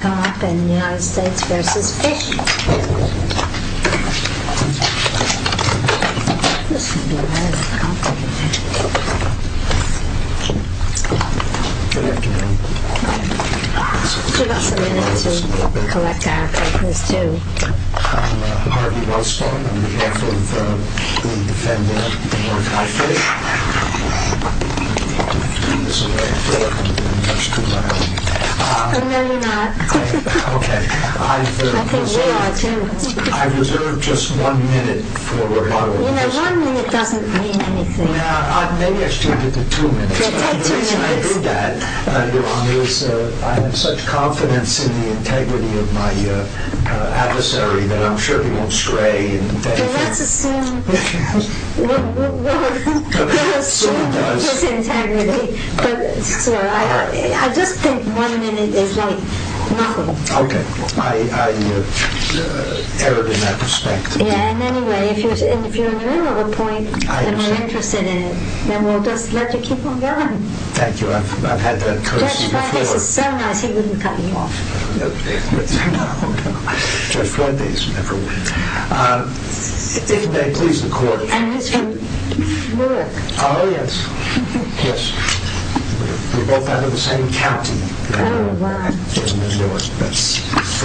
and the United States versus Fish. Give us a minute to collect our papers, too. I'm Harvey Wellstone, on behalf of the defendant, Mark Fisher. I'm going to give you some background information about him. I've reserved just one minute. One minute doesn't mean anything. Maybe I should give you two minutes. I have such confidence in the integrity of my adversary that I'm sure he won't stray. Let's assume he has integrity. I just think one minute is not enough. Okay. I erred in that respect. Anyway, if you're in the middle of a point and you're interested in it, then we'll just let you keep on going. Thank you. I've had that courtesy before. I don't know. I've just read these. If they please the court. We're both out of the same county. For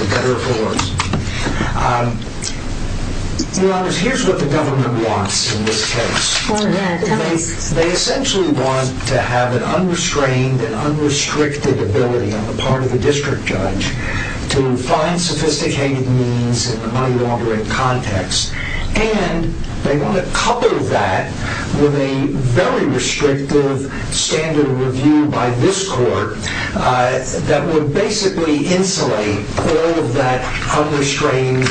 better or for worse. Here's what the government wants in this case. They essentially want to have an unrestrained and unrestricted ability on the part of the district judge to find sophisticated means in the money laundering context. And they want to cover that with a very restrictive standard of review by this court that would basically insulate all of that unrestrained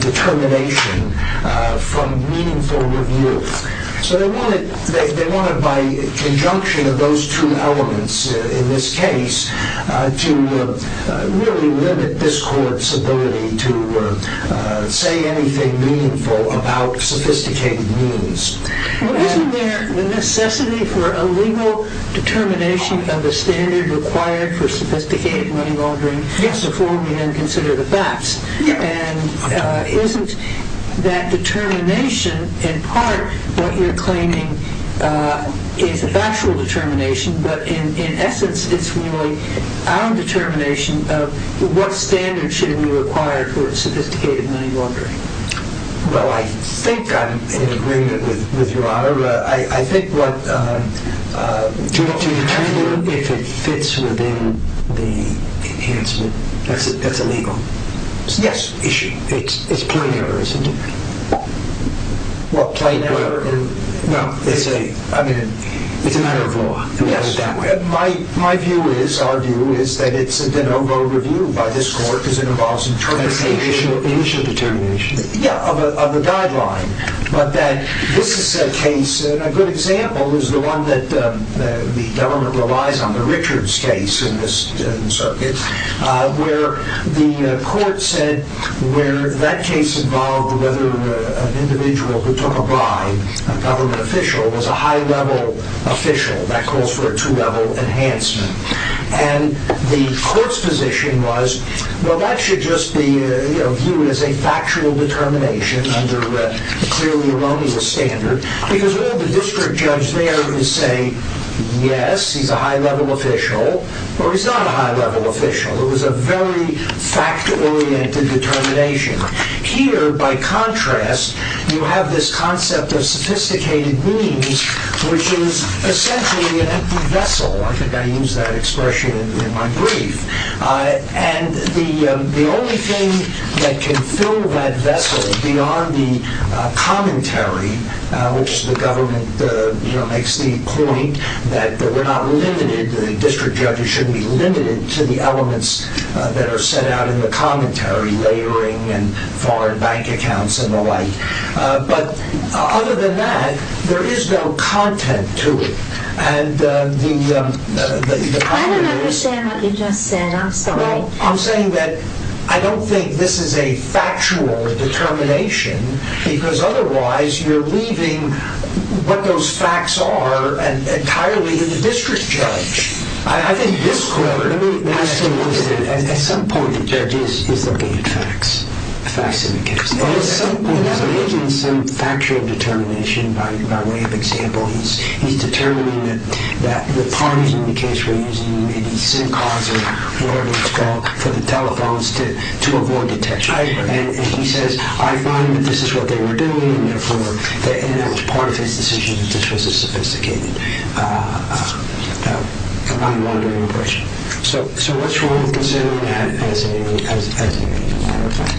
determination from meaningful review. They want it by conjunction of those two elements in this case to really limit this court's ability to say anything meaningful about sophisticated means. Isn't there a necessity for a legal determination of a standard required for sophisticated money laundering before we then consider the facts? Isn't that determination in part what you're claiming is a factual determination but in essence it's really our determination of what standard should be required for sophisticated money laundering? Well, I think I'm in agreement with Your Honor. To determine if it fits within the enhancement, that's a legal issue. It's plain error, isn't it? It's a matter of law. Our view is that it's a de novo review by this court because it involves interpretation of the initial determination of the guideline. A good example is the one that the government relies on, the Richards case in this circuit, where that case involved whether an individual who took a bribe, a government official, was a high level official. That calls for a two level enhancement. The court's position was, well, that should just be viewed as a factual determination under a clearly erroneous standard because all the district judge there is saying, yes, he's a high level official, or he's not a high level official. It was a very fact-oriented determination. Here, by contrast, you have this concept of sophisticated means, which is essentially an empty vessel. I think I used that expression in my brief. The only thing that can fill that vessel beyond the commentary, which the government makes the point that we're not limited, the district judges shouldn't be limited to the elements that are set out in the commentary, layering and foreign bank accounts and the like. Other than that, there is no content to it. I don't understand what you just said. I'm sorry. I'm saying that I don't think this is a factual determination because otherwise, you're leaving what those facts are entirely to the district judge. At some point, the judge is looking at facts in the case. He's making some factual determination by way of example. He's determining that the parties in the case were using the SIM cards or whatever it's called for the telephones to avoid detection. He says, I find that this is what they were doing. That was part of his decision. So what's wrong with considering that as a matter of fact?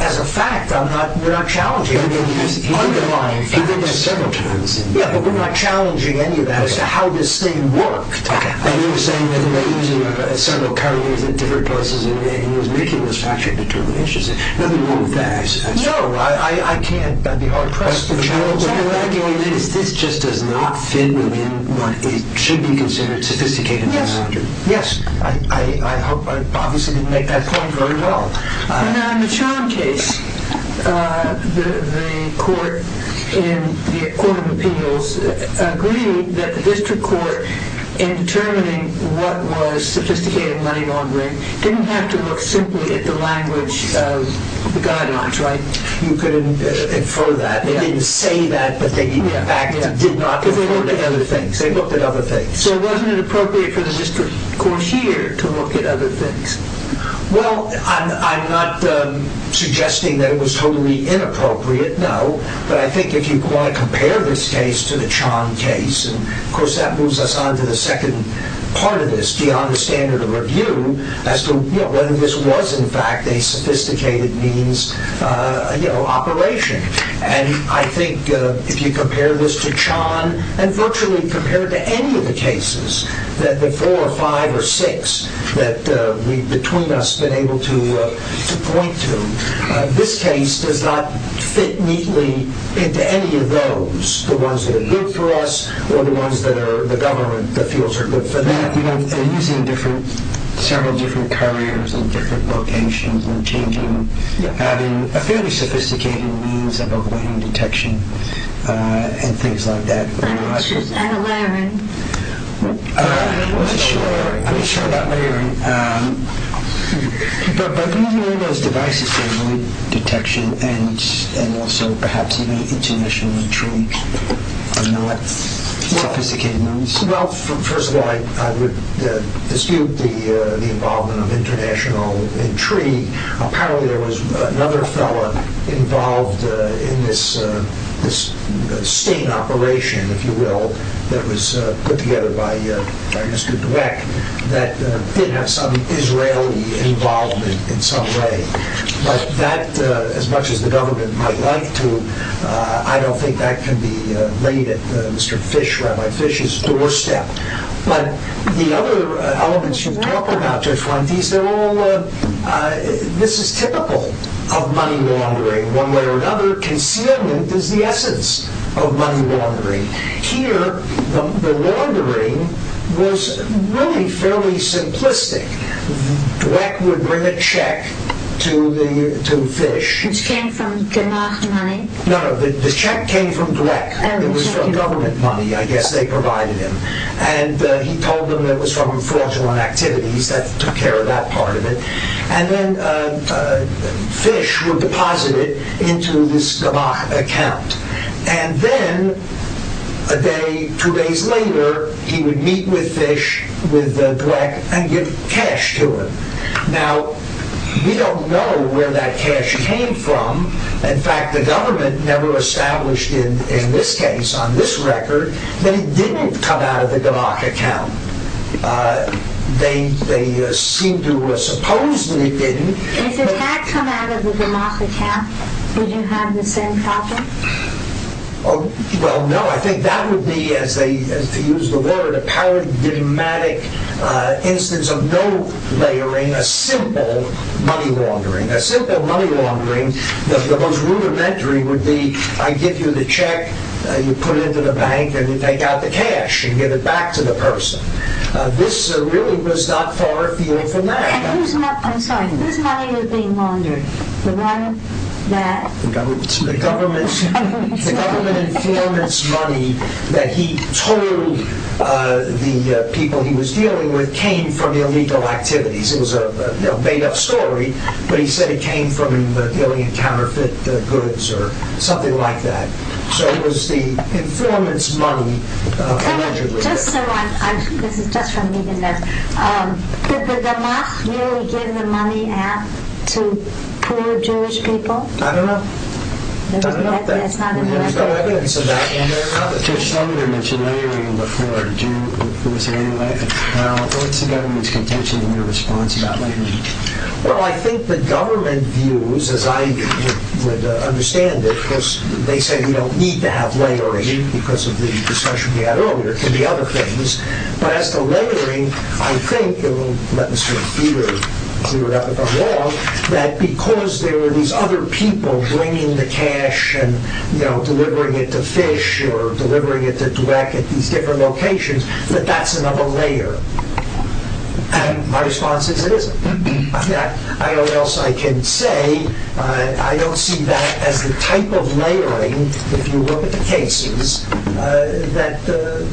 As a fact, we're not challenging it. We're not challenging any of that as to how this thing worked. He was saying that they were using several carriers at different places and he was making those factual determinations. Nothing wrong with that. What you're arguing is this just does not fit within what should be considered sophisticated. Yes. I hope I obviously didn't make that point very well. In the Chown case, the court in the court of appeals agreed that the district court in determining what was sophisticated money laundering didn't have to look simply at the language of the guidelines, right? You could infer that. They didn't say that, but they in fact did not refer to other things. They looked at other things. So wasn't it appropriate for the district court here to look at other things? Well, I'm not suggesting that it was totally inappropriate, no. But I think if you want to compare this case to the Chown case, and of course that moves us on to the second part of this, beyond the standard of review, as to whether this was in fact a sophisticated means operation. And I think if you compare this to Chown and virtually compare it to any of the cases that the four or five or six that between us have been able to point to, this case does not fit neatly into any of those. Whether it's the ones that are good for us or the ones that the government feels are good for them. Using several different carriers in different locations and having a fairly sophisticated means of avoiding detection and things like that. I'm not sure about layering. I'm not sure about layering. But using all those devices to avoid detection and also perhaps even international intrigue are not sophisticated means. Well, first of all, I would dispute the involvement of international intrigue. Apparently there was another fellow involved in this state operation, if you will, that was put together by Mr. Dweck that did have some Israeli involvement in some way. But that, as much as the government might like to, I don't think that can be made at Mr. Fish, Rabbi Fish's doorstep. But the other elements you've talked about, Judge Fuentes, this is typical of money laundering. One way or another, concealment is the essence of money laundering. Here, the laundering was really fairly simplistic. Dweck would bring a check to Fish. Which came from Gamach money? No, no, the check came from Dweck. It was from government money, I guess they provided him. And he told them it was from fraudulent activities, that took care of that part of it. And then Fish would deposit it into this Gamach account. And then, a day, two days later, he would meet with Fish, with Dweck, and give cash to him. Now, we don't know where that cash came from. In fact, the government never established in this case, on this record, that it didn't come out of the Gamach account. They seem to have supposedly been... If it had come out of the Gamach account, would you have the same problem? Well, no, I think that would be, to use the word, a paradigmatic instance of no layering, a simple money laundering. A simple money laundering, the most rudimentary would be, I give you the check, you put it into the bank, and you take out the cash, and give it back to the person. This really was not far afield from that. I'm sorry, whose money was being laundered? The one that... The government informant's money, that he told the people he was dealing with, came from illegal activities. It was a made-up story, but he said it came from him dealing in counterfeit goods, or something like that. So, it was the informant's money laundered. This is just for me to know. Did the Gamach really give the money out to poor Jewish people? I don't know. There's no evidence of that. You mentioned layering before. What's the government's contention in your response about layering? Well, I think the government views, as I would understand it, because they say we don't need to have layering, because of the discussion we had earlier, it could be other things. But as to layering, I think, and let me sort of clear up if I'm wrong, that because there are these other people bringing the cash, and delivering it to fish, or delivering it to direct at these different locations, that that's another layer. My response is it isn't. I don't know what else I can say. I don't see that as the type of layering, if you look at the cases, that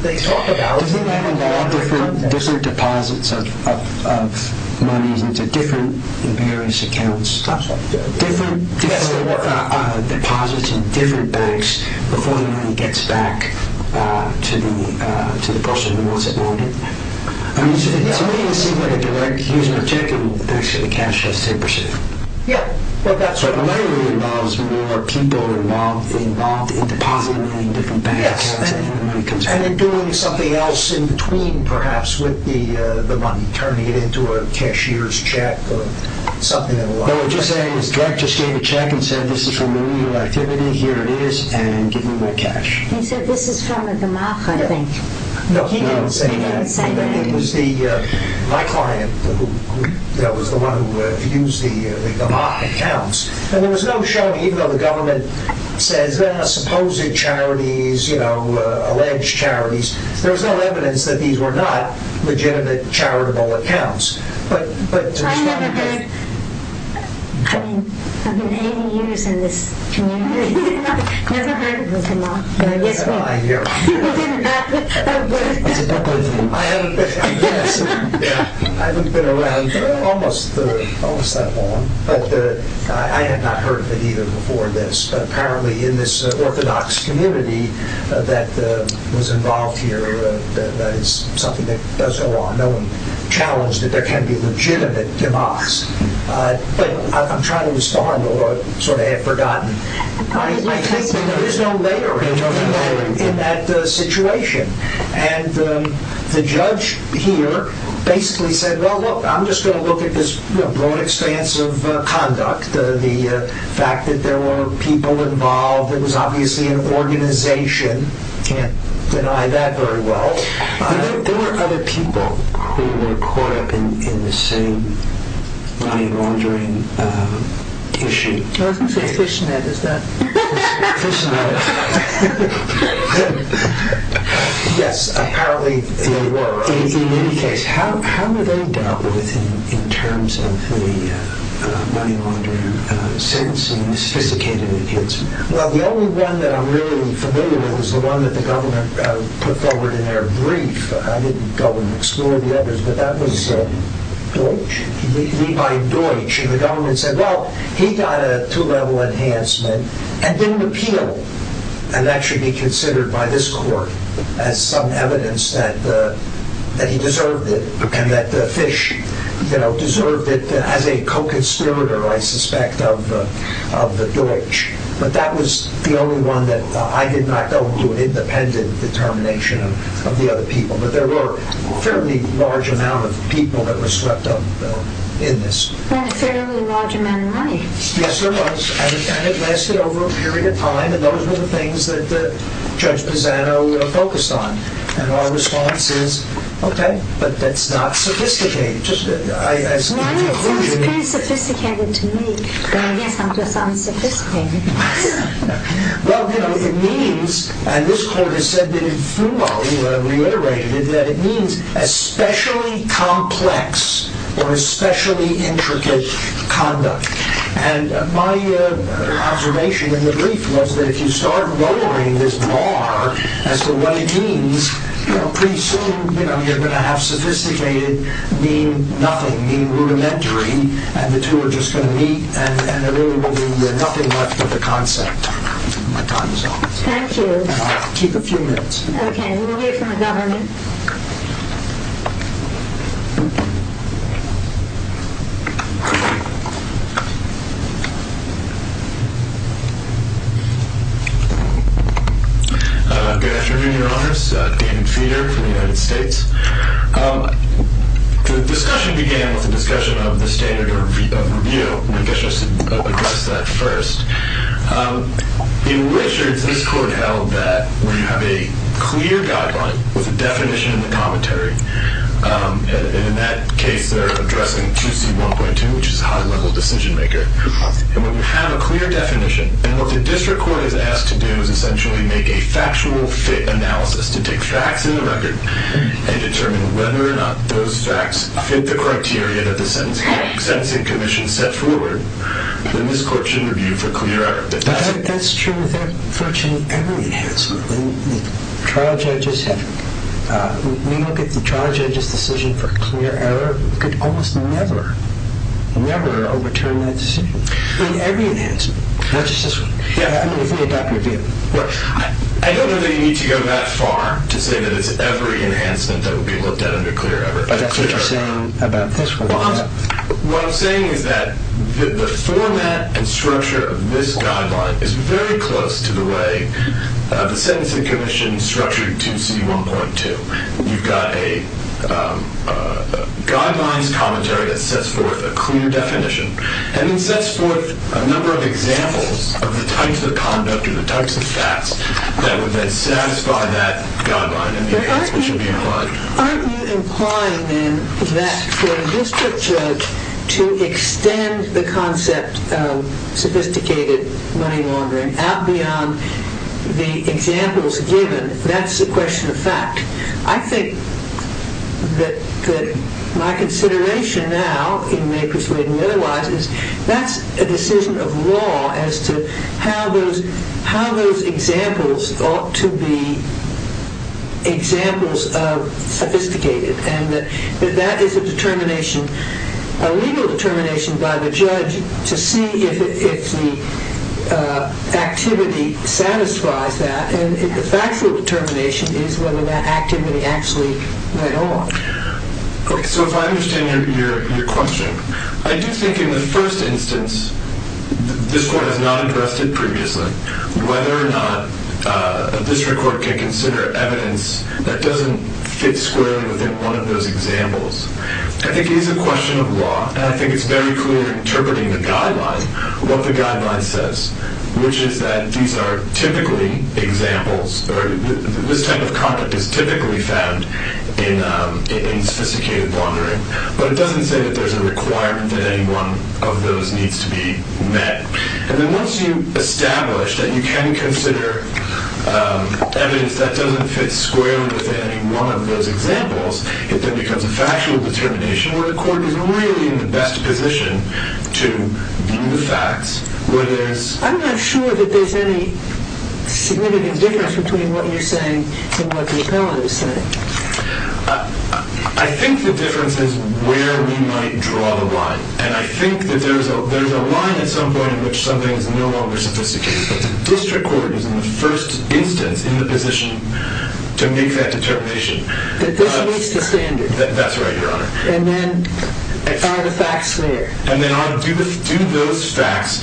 they talk about. Doesn't that involve different deposits of money into different and various accounts? That's right. Different deposits in different banks before the money gets back to the person who wants it more than. I mean, to me, it seems like a direct use of a check and actually the cash has to be pursued. Yeah, well, that's right. Layering involves more people involved in depositing in different banks. Yes, and in doing something else in between, perhaps, with the money, turning it into a cashier's check or something of the like. No, what you're saying is, the director just gave a check and said, this is from a legal activity, here it is, and give me my cash. He said, this is from a gamak, I think. No, he didn't say that. He didn't say that. It was my client that was the one who used the gamak accounts. And there was no showing, even though the government says, supposing charities, you know, alleged charities, there was no evidence that these were not legitimate charitable accounts. I've never heard, I mean, I've been 80 years in this community, I've never heard of a gamak. Yes, ma'am. I hear. It didn't happen. I haven't been around almost that long, but I had not heard of it either before this, but apparently in this orthodox community that was involved here, that is something that does go on. No one challenged that there can be legitimate gamaks. But I'm trying to respond, although I sort of have forgotten. There's no layering in that situation. And the judge here basically said, well, look, I'm just going to look at this broad expanse of conduct, the fact that there were people involved, it was obviously an organization, can't deny that very well. There were other people who were caught up in the same mind-wandering issue. I was going to say fishnet, is that... Fishnet. Yes, apparently there were. In any case, how were they dealt with in terms of the mind-wandering sentencing, the sophisticated appeals? Well, the only one that I'm really familiar with is the one that the government put forward in their brief. I didn't go and explore the others, but that was Deutch, Levi Deutch. And the government said, well, he got a two-level enhancement and didn't appeal. And that should be considered by this court as some evidence that he deserved it and that the fish deserved it as a co-conspirator, I suspect, of the Deutch. But that was the only one that I did not go into an independent determination of the other people. But there were a fairly large amount of people that were swept up in this. And a fairly large amount of money. Yes, there was. And it lasted over a period of time. And those were the things that Judge Pisano focused on. And our response is, OK, but that's not sophisticated. No, it sounds pretty sophisticated to me. But I guess I'm just unsophisticated. Well, it means, and this court has said that in FUMO, you have reiterated it, that it means especially complex or especially intricate conduct. And my observation in the brief was that if you start lowering this bar as to what it means, pretty soon you're going to have sophisticated mean nothing, mean rudimentary, and the two are just going to meet and there really will be nothing left of the concept. My time is up. Thank you. Keep a few minutes. OK, we'll hear from the government. Good afternoon, Your Honors. David Feeder from the United States. The discussion began with the discussion of the standard of review. I guess I should address that first. In Richards, this court held that we have a clear guideline with a definition in the commentary. And in that case, they're addressing 2C1.2, which is high-level decision-making. And when you have a clear definition, and what the district court is asked to do is essentially make a factual fit analysis to take facts in the record and determine whether or not those facts fit the criteria that the sentencing commission set forward, then this court should review for clear error. That's true with virtually every enhancement. We look at the trial judge's decision for clear error. We could almost never, never overturn that decision in every enhancement, not just this one. I mean, if we adopt your view. I don't know that you need to go that far to say that it's every enhancement that would be looked at under clear error. But that's what you're saying about this one. What I'm saying is that the format and structure of this guideline is very close to the way the sentencing commission structured 2C1.2. So you've got a guidelines commentary that sets forth a clear definition. And it sets forth a number of examples of the types of conduct or the types of facts that would then satisfy that guideline. And that's what should be implied. Aren't you implying, then, that for a district judge to extend the concept of sophisticated money laundering out beyond the examples given, that's a question of fact? I think that my consideration now, in may persuade me otherwise, is that's a decision of law as to how those examples ought to be examples of sophisticated. And that is a determination, a legal determination by the judge to see if the activity satisfies that. And the factual determination is whether that activity actually went on. Okay. So if I understand your question, I do think in the first instance this court has not addressed it previously whether or not a district court can consider evidence that doesn't fit squarely within one of those examples. I think it is a question of law. And I think it's very clear in interpreting the guideline, what the guideline says, which is that these are typically examples, or this type of conduct is typically found in sophisticated laundering. But it doesn't say that there's a requirement that any one of those needs to be met. And then once you establish that you can consider evidence that doesn't fit squarely within any one of those examples, it then becomes a factual determination where the court is really in the best position to view the facts where there's... I'm not sure that there's any significant difference between what you're saying and what the appellate is saying. I think the difference is where we might draw the line. And I think that there's a line at some point in which something is no longer sophisticated. But the district court is in the first instance in the position to make that determination. That this meets the standard. That's right, Your Honor. And then I find the facts there. And then do those facts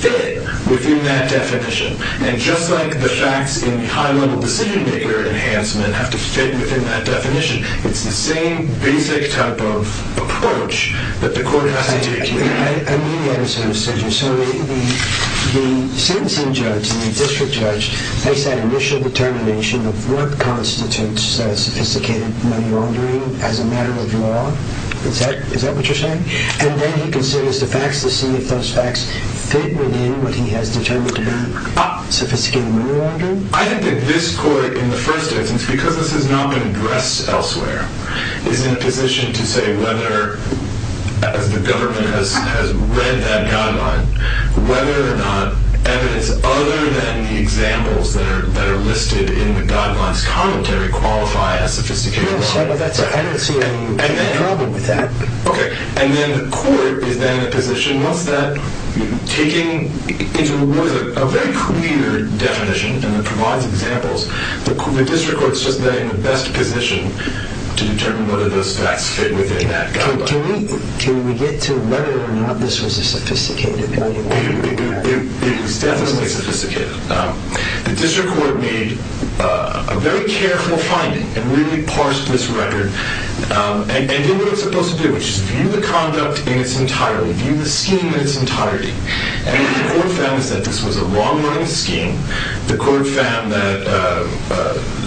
fit within that definition? And just like the facts in the high-level decision-maker enhancement have to fit within that definition, it's the same basic type of approach that the court has to take here. I mean the other sort of procedure. So the sentencing judge, the district judge, makes that initial determination of what constitutes sophisticated laundering as a matter of law. Is that what you're saying? And then he considers the facts to see if those facts fit within what he has determined to be sophisticated laundering? I think that this court in the first instance, because this has not been addressed elsewhere, is in a position to say whether, as the government has read that guideline, whether or not evidence other than the examples that are listed in the guidelines commentary qualify as sophisticated laundering. Yes, but I don't see any problem with that. Okay. And then the court is then in a position, once that, taking into reward a very clear definition and it provides examples, the district court is just then in the best position to determine whether those facts fit within that guideline. Can we get to whether or not this was a sophisticated launder? It was definitely sophisticated. The district court made a very careful finding and really parsed this record and did what it's supposed to do, which is view the conduct in its entirety, view the scheme in its entirety. And what the court found is that this was a long-running scheme. The court found that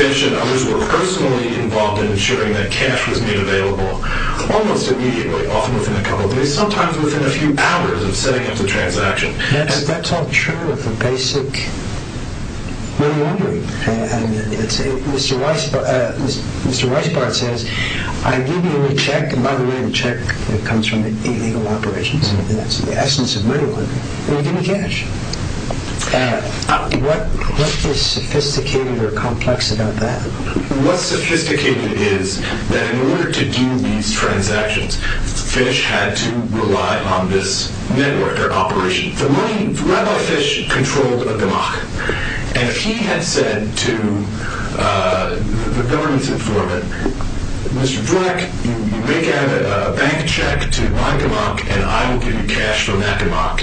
Fish and others were personally involved in ensuring that cash was made available almost immediately, often within a couple of days, sometimes within a few hours of setting up the transaction. That's all true of the basic laundering. Mr. Weisbart says, I give you a check, and by the way, the check comes from illegal operations. That's the essence of money laundering. Well, you give me cash. What is sophisticated or complex about that? What's sophisticated is that in order to do these transactions, Fish had to rely on this network or operation. Rabbi Fish controlled a damach. And he had said to the government's informant, Mr. Dweck, you make a bank check to my damach, and I will give you cash from that damach.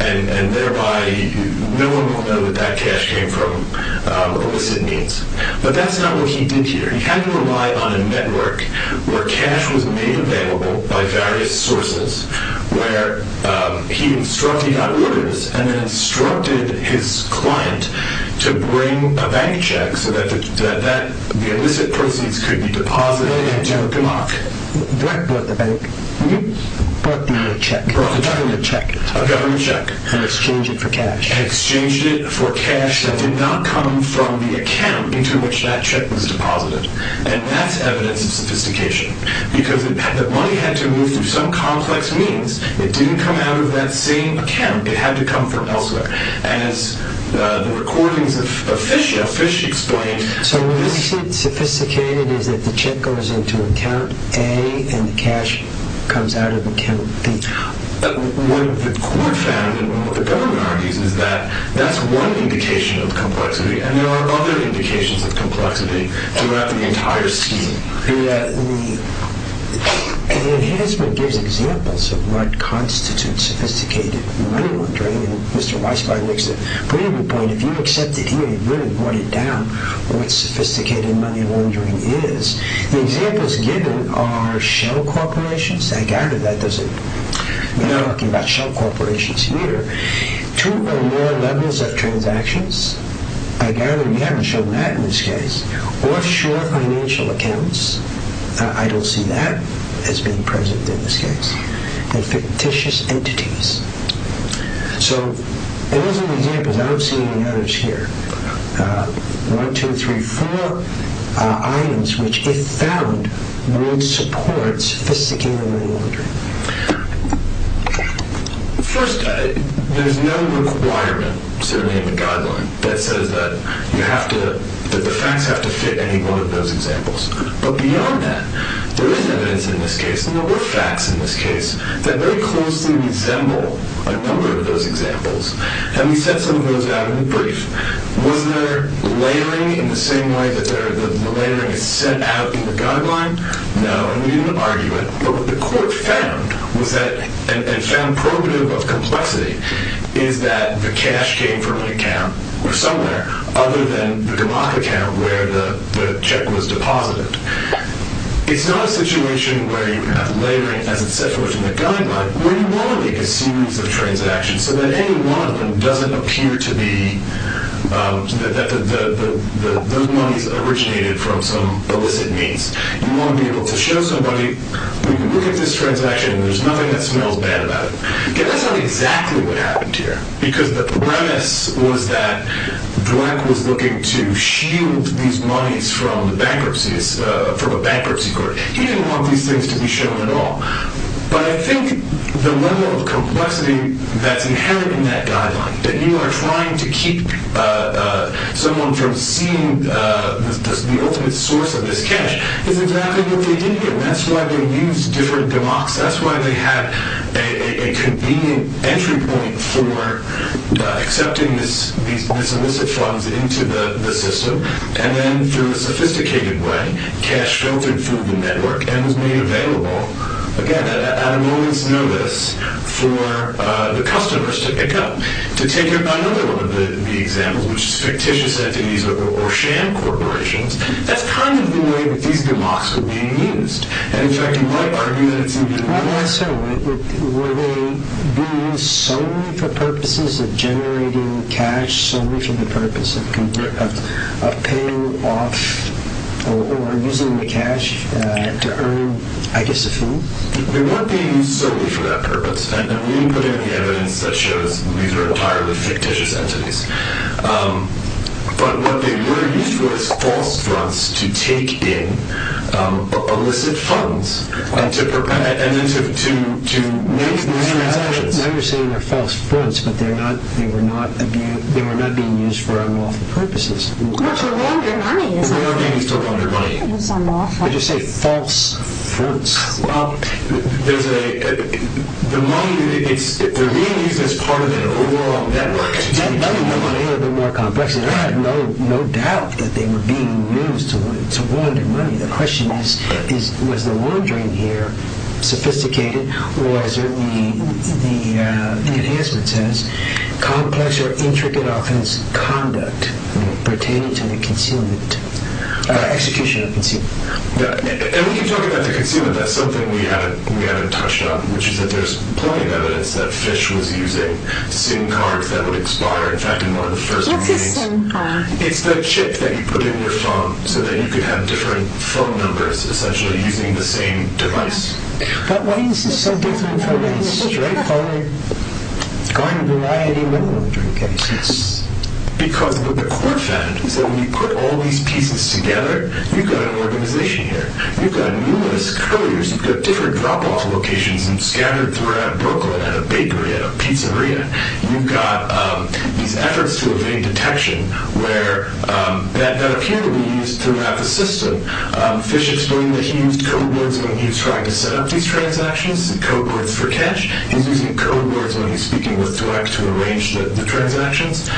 And thereby, no one will know that that cash came from illicit means. But that's not what he did here. He had to rely on a network where cash was made available by various sources, where he instructed, he got orders, and then instructed his client to bring a bank check so that the illicit proceeds could be deposited into a damach. Dweck brought the bank. He brought the check. A government check. A government check. And exchanged it for cash. And exchanged it for cash that did not come from the account into which that check was deposited. And that's evidence of sophistication. Because the money had to move through some complex means. It didn't come out of that same account. It had to come from elsewhere. And as the recordings of Fish show, Fish explained. So what we see as sophisticated is that the check goes into account A and the cash comes out of account B. What the court found and what the government argues is that that's one indication of complexity. And there are other indications of complexity throughout the entire scheme. The enhancement gives examples of what constitutes sophisticated money laundering. And Mr. Weisbein makes a pretty good point. If you accept it here and really write it down, what sophisticated money laundering is, the examples given are shell corporations. I gather that we're not talking about shell corporations here. Two or more levels of transactions. I gather you haven't shown that in this case. Offshore financial accounts. I don't see that as being present in this case. And fictitious entities. So those are the examples. I don't see any others here. One, two, three, four items which, if found, would support sophisticated money laundering. First, there's no requirement to name a guideline that says that the facts have to fit any one of those examples. But beyond that, there is evidence in this case, and there were facts in this case, that very closely resemble a number of those examples. And we set some of those out in the brief. Was there layering in the same way that the layering is set out in the guideline? No, and we didn't argue it. But what the court found, and found probative of complexity, is that the cash came from an account, or somewhere, other than the Gamak account where the check was deposited. It's not a situation where you have layering as it's set forth in the guideline, where you want to make a series of transactions so that any one of them doesn't appear to be that those monies originated from some illicit means. You want to be able to show somebody, we can look at this transaction and there's nothing that smells bad about it. That's not exactly what happened here. Because the premise was that Dweck was looking to shield these monies from a bankruptcy court. He didn't want these things to be shown at all. But I think the level of complexity that's inherent in that guideline, that you are trying to keep someone from seeing the ultimate source of this cash, is exactly what they did here. That's why they used different Gamaks. That's why they had a convenient entry point for accepting these illicit funds into the system. And then, through a sophisticated way, cash filtered through the network and was made available, again, at a moment's notice, for the customers to pick up. To take another one of the examples, which is fictitious entities or sham corporations, that's kind of the way that these Gamaks are being used. In fact, you might argue that it's... Why not so? Were they being used solely for purposes of generating cash? Solely for the purpose of paying off or using the cash to earn, I guess, a fee? They weren't being used solely for that purpose. And we can put in the evidence that shows these are entirely fictitious entities. But what they were used for was false fronts to take in illicit funds and to make these transactions. Now you're saying they're false fronts, but they were not being used for unlawful purposes. Not to launder money, is that it? They weren't being used to launder money. Did you say false fronts? There's a... The money, it's... They're being used as part of the law. That money would have been more complex, and I have no doubt that they were being used to launder money. The question is, was the laundering here sophisticated, or as the enhancement says, complex or intricate offense conduct pertaining to the concealment... execution of concealment. And when you talk about the concealment, that's something we haven't touched on, which is that there's plenty of evidence that Fish was using SIM cards that would expire. In fact, in one of the first meetings... What's a SIM card? It's the chip that you put in your phone so that you could have different phone numbers, essentially, using the same device. But why is this so different from a straight forward going to variety liquor drinking case? Because what the court found is that when you put all these pieces together, you've got an organization here, you've got numerous couriers, you've got different drop-off locations scattered throughout Brooklyn, at a bakery, at a pizzeria. You've got these efforts to evade detection that appear to be used throughout the system. Fish explained that he used code words when he was trying to set up these transactions, code words for cash. He's using code words when he's speaking with Dweck to arrange the transactions.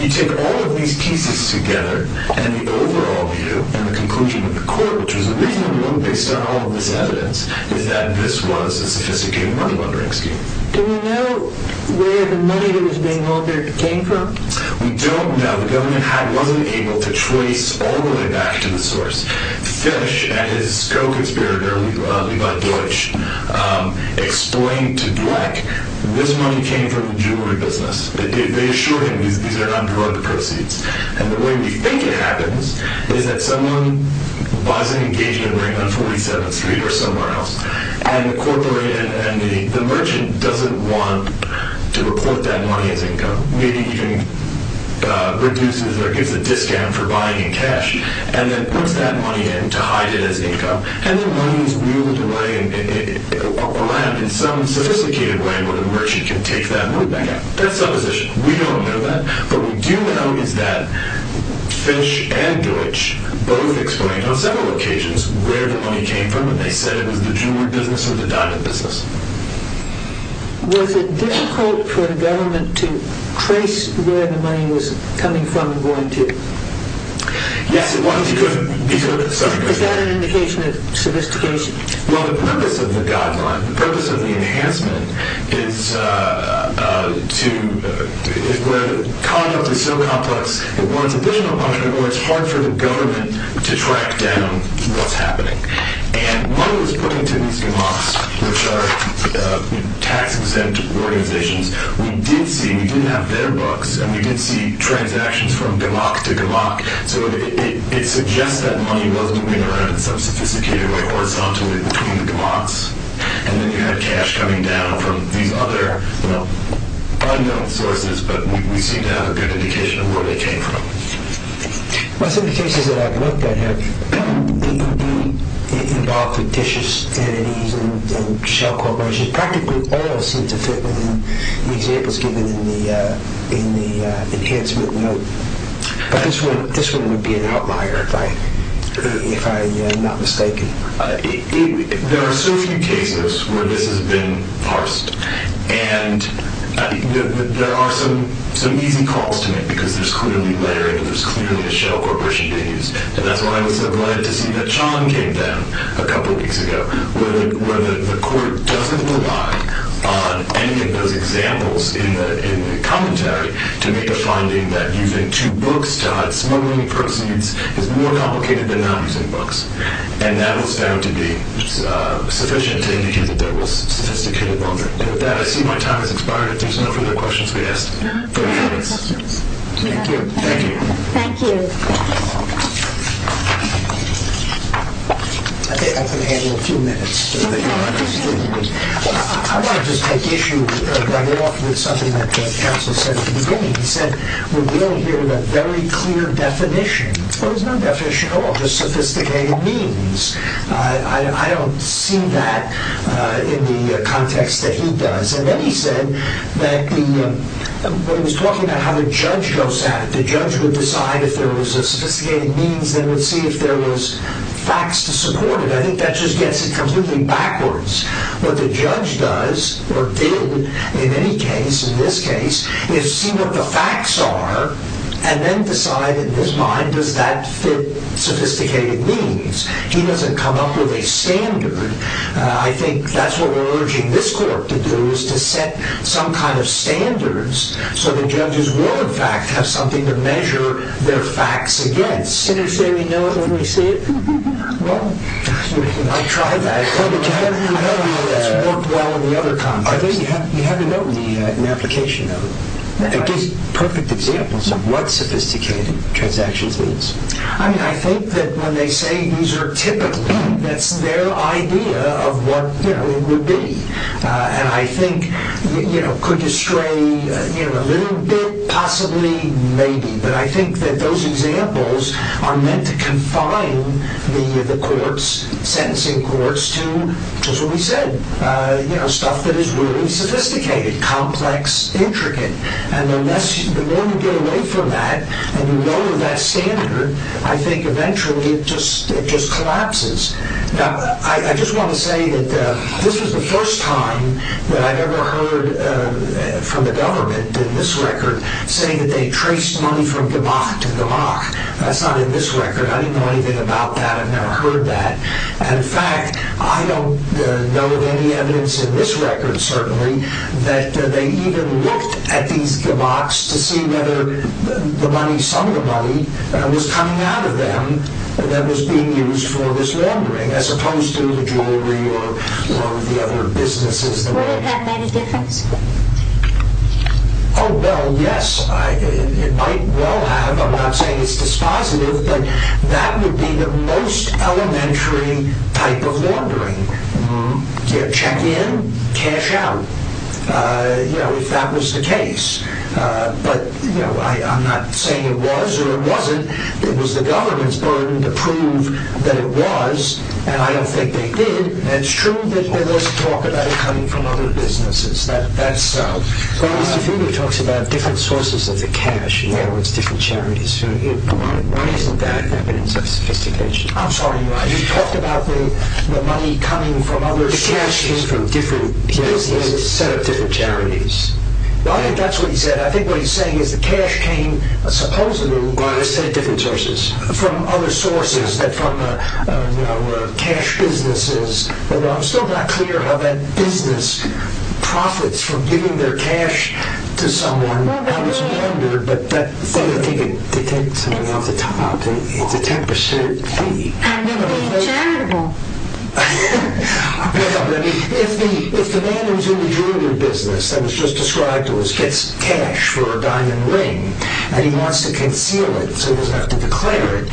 You take all of these pieces together, and the overall view and the conclusion of the court, which was a reasonable one based on all of this evidence, is that this was a sophisticated money laundering scheme. Do we know where the money that was being laundered came from? We don't know. The government wasn't able to trace all the way back to the source. Fish, at his co-conspirator, Levi Deutsch, explained to Dweck that this money came from the jewelry business. They assured him these are not drug proceeds. And the way we think it happens is that someone buys an engagement ring on 47th Street or somewhere else, and the merchant doesn't want to report that money as income. Maybe he reduces or gives a discount for buying in cash and then puts that money in to hide it as income. And the money is wheeled away or landed in some sophisticated way where the merchant can take that money back out. That's supposition. We don't know that. What we do know is that Fish and Deutsch both explained on several occasions where the money came from, and they said it was the jewelry business or the diamond business. Was it difficult for the government to trace where the money was coming from and going to? Yes, it was. Is that an indication of sophistication? Well, the purpose of the guideline, the purpose of the enhancement, is where the conduct is so complex it warrants additional punishment or it's hard for the government to track down what's happening. And money was put into these gamaks, which are tax-exempt organizations. We did see, and we did have their books, and we did see transactions from gamak to gamak. So it suggests that money was moving around in some sophisticated way, horizontally between the gamaks. And then you had cash coming down from these other, well, unknown sources, but we seem to have a good indication of where they came from. Well, some of the cases that I've looked at have involved fictitious entities and shell corporations. Practically all seem to fit within the examples given in the enhancement note. But this one would be an outlier, if I'm not mistaken. There are so few cases where this has been parsed. And there are some easy calls to make because there's clearly layering and there's clearly a shell corporation being used. And that's why I was so glad to see that Chan came down a couple weeks ago, where the court doesn't rely on any of those examples in the commentary to make a finding that using two books to hide smuggling proceeds is more complicated than not using books. And that was found to be sufficient to indicate that there was sophisticated money. And with that, I see my time has expired. If there's no further questions, we ask for your comments. Thank you. Thank you. I think I can handle a few minutes. I want to just take issue with something that counsel said at the beginning. He said we're dealing here with a very clear definition. Well, there's no definition at all, just sophisticated means. I don't see that in the context that he does. And then he said that when he was talking about how the judge goes at it, the judge would decide if there was a sophisticated means, then would see if there was facts to support it. I think that just gets it completely backwards. What the judge does, or did in any case, in this case, is see what the facts are and then decide in his mind, does that fit sophisticated means? He doesn't come up with a standard. I think that's what we're urging this court to do, is to set some kind of standards so the judges will, in fact, have something to measure their facts against. Can you say we know it when we see it? Well, I tried that. But you have to know that it's worked well in the other context. You have to know the application of it. It gives perfect examples of what sophisticated transactions means. I think that when they say these are typically, that's their idea of what it would be. And I think it could distray a little bit, possibly, maybe. But I think that those examples are meant to confine the courts, sentencing courts, to just what we said, stuff that is really sophisticated, complex, intricate. And the more you get away from that, and you know that standard, I think eventually it just collapses. Now, I just want to say that this is the first time that I've ever heard from the government, in this record, saying that they traced money from Gamach to Gamach. That's not in this record. I didn't know anything about that. I've never heard that. In fact, I don't know of any evidence in this record, certainly, that they even looked at these Gamachs to see whether the money, some of the money, was coming out of them that was being used for this laundering, as opposed to the jewelry or one of the other businesses. Would it have made a difference? Oh, well, yes. It might well have. I'm not saying it's dispositive, but that would be the most elementary type of laundering. Check in, cash out. If that was the case. But I'm not saying it was or it wasn't. It was the government's burden to prove that it was, and I don't think they did. It's true that there was talk about it coming from other businesses. That's so. Well, Mr. Finger talks about different sources of the cash, in other words, different charities. Why isn't that evidence of sophistication? I'm sorry. He talked about the money coming from other sources. The cash came from different businesses. Yes, he had a set of different charities. I think that's what he said. I think what he's saying is the cash came, supposedly, from a set of different sources, from other sources, from cash businesses. Although I'm still not clear how that business profits from giving their cash to someone. I was wondering. To take something off the top, it's a 10% fee. And be charitable. If the man who's in the jewelry business that was just described to us gets cash for a diamond ring and he wants to conceal it so he doesn't have to declare it,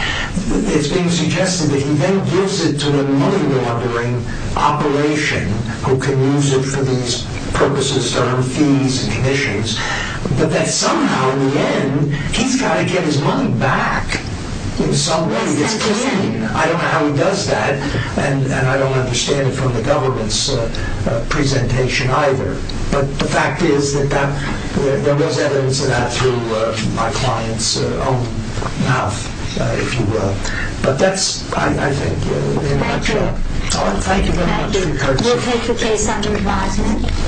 it's being suggested that he then gives it to a money laundering operation who can use it for these purposes, to earn fees and commissions, but that somehow, in the end, he's got to get his money back in some way. I don't know how he does that, and I don't understand it from the government's presentation either. But the fact is that there was evidence of that through my client's own mouth, if you will. But that's, I think, in a nutshell. Thank you very much for your time. We'll take your case under advisement.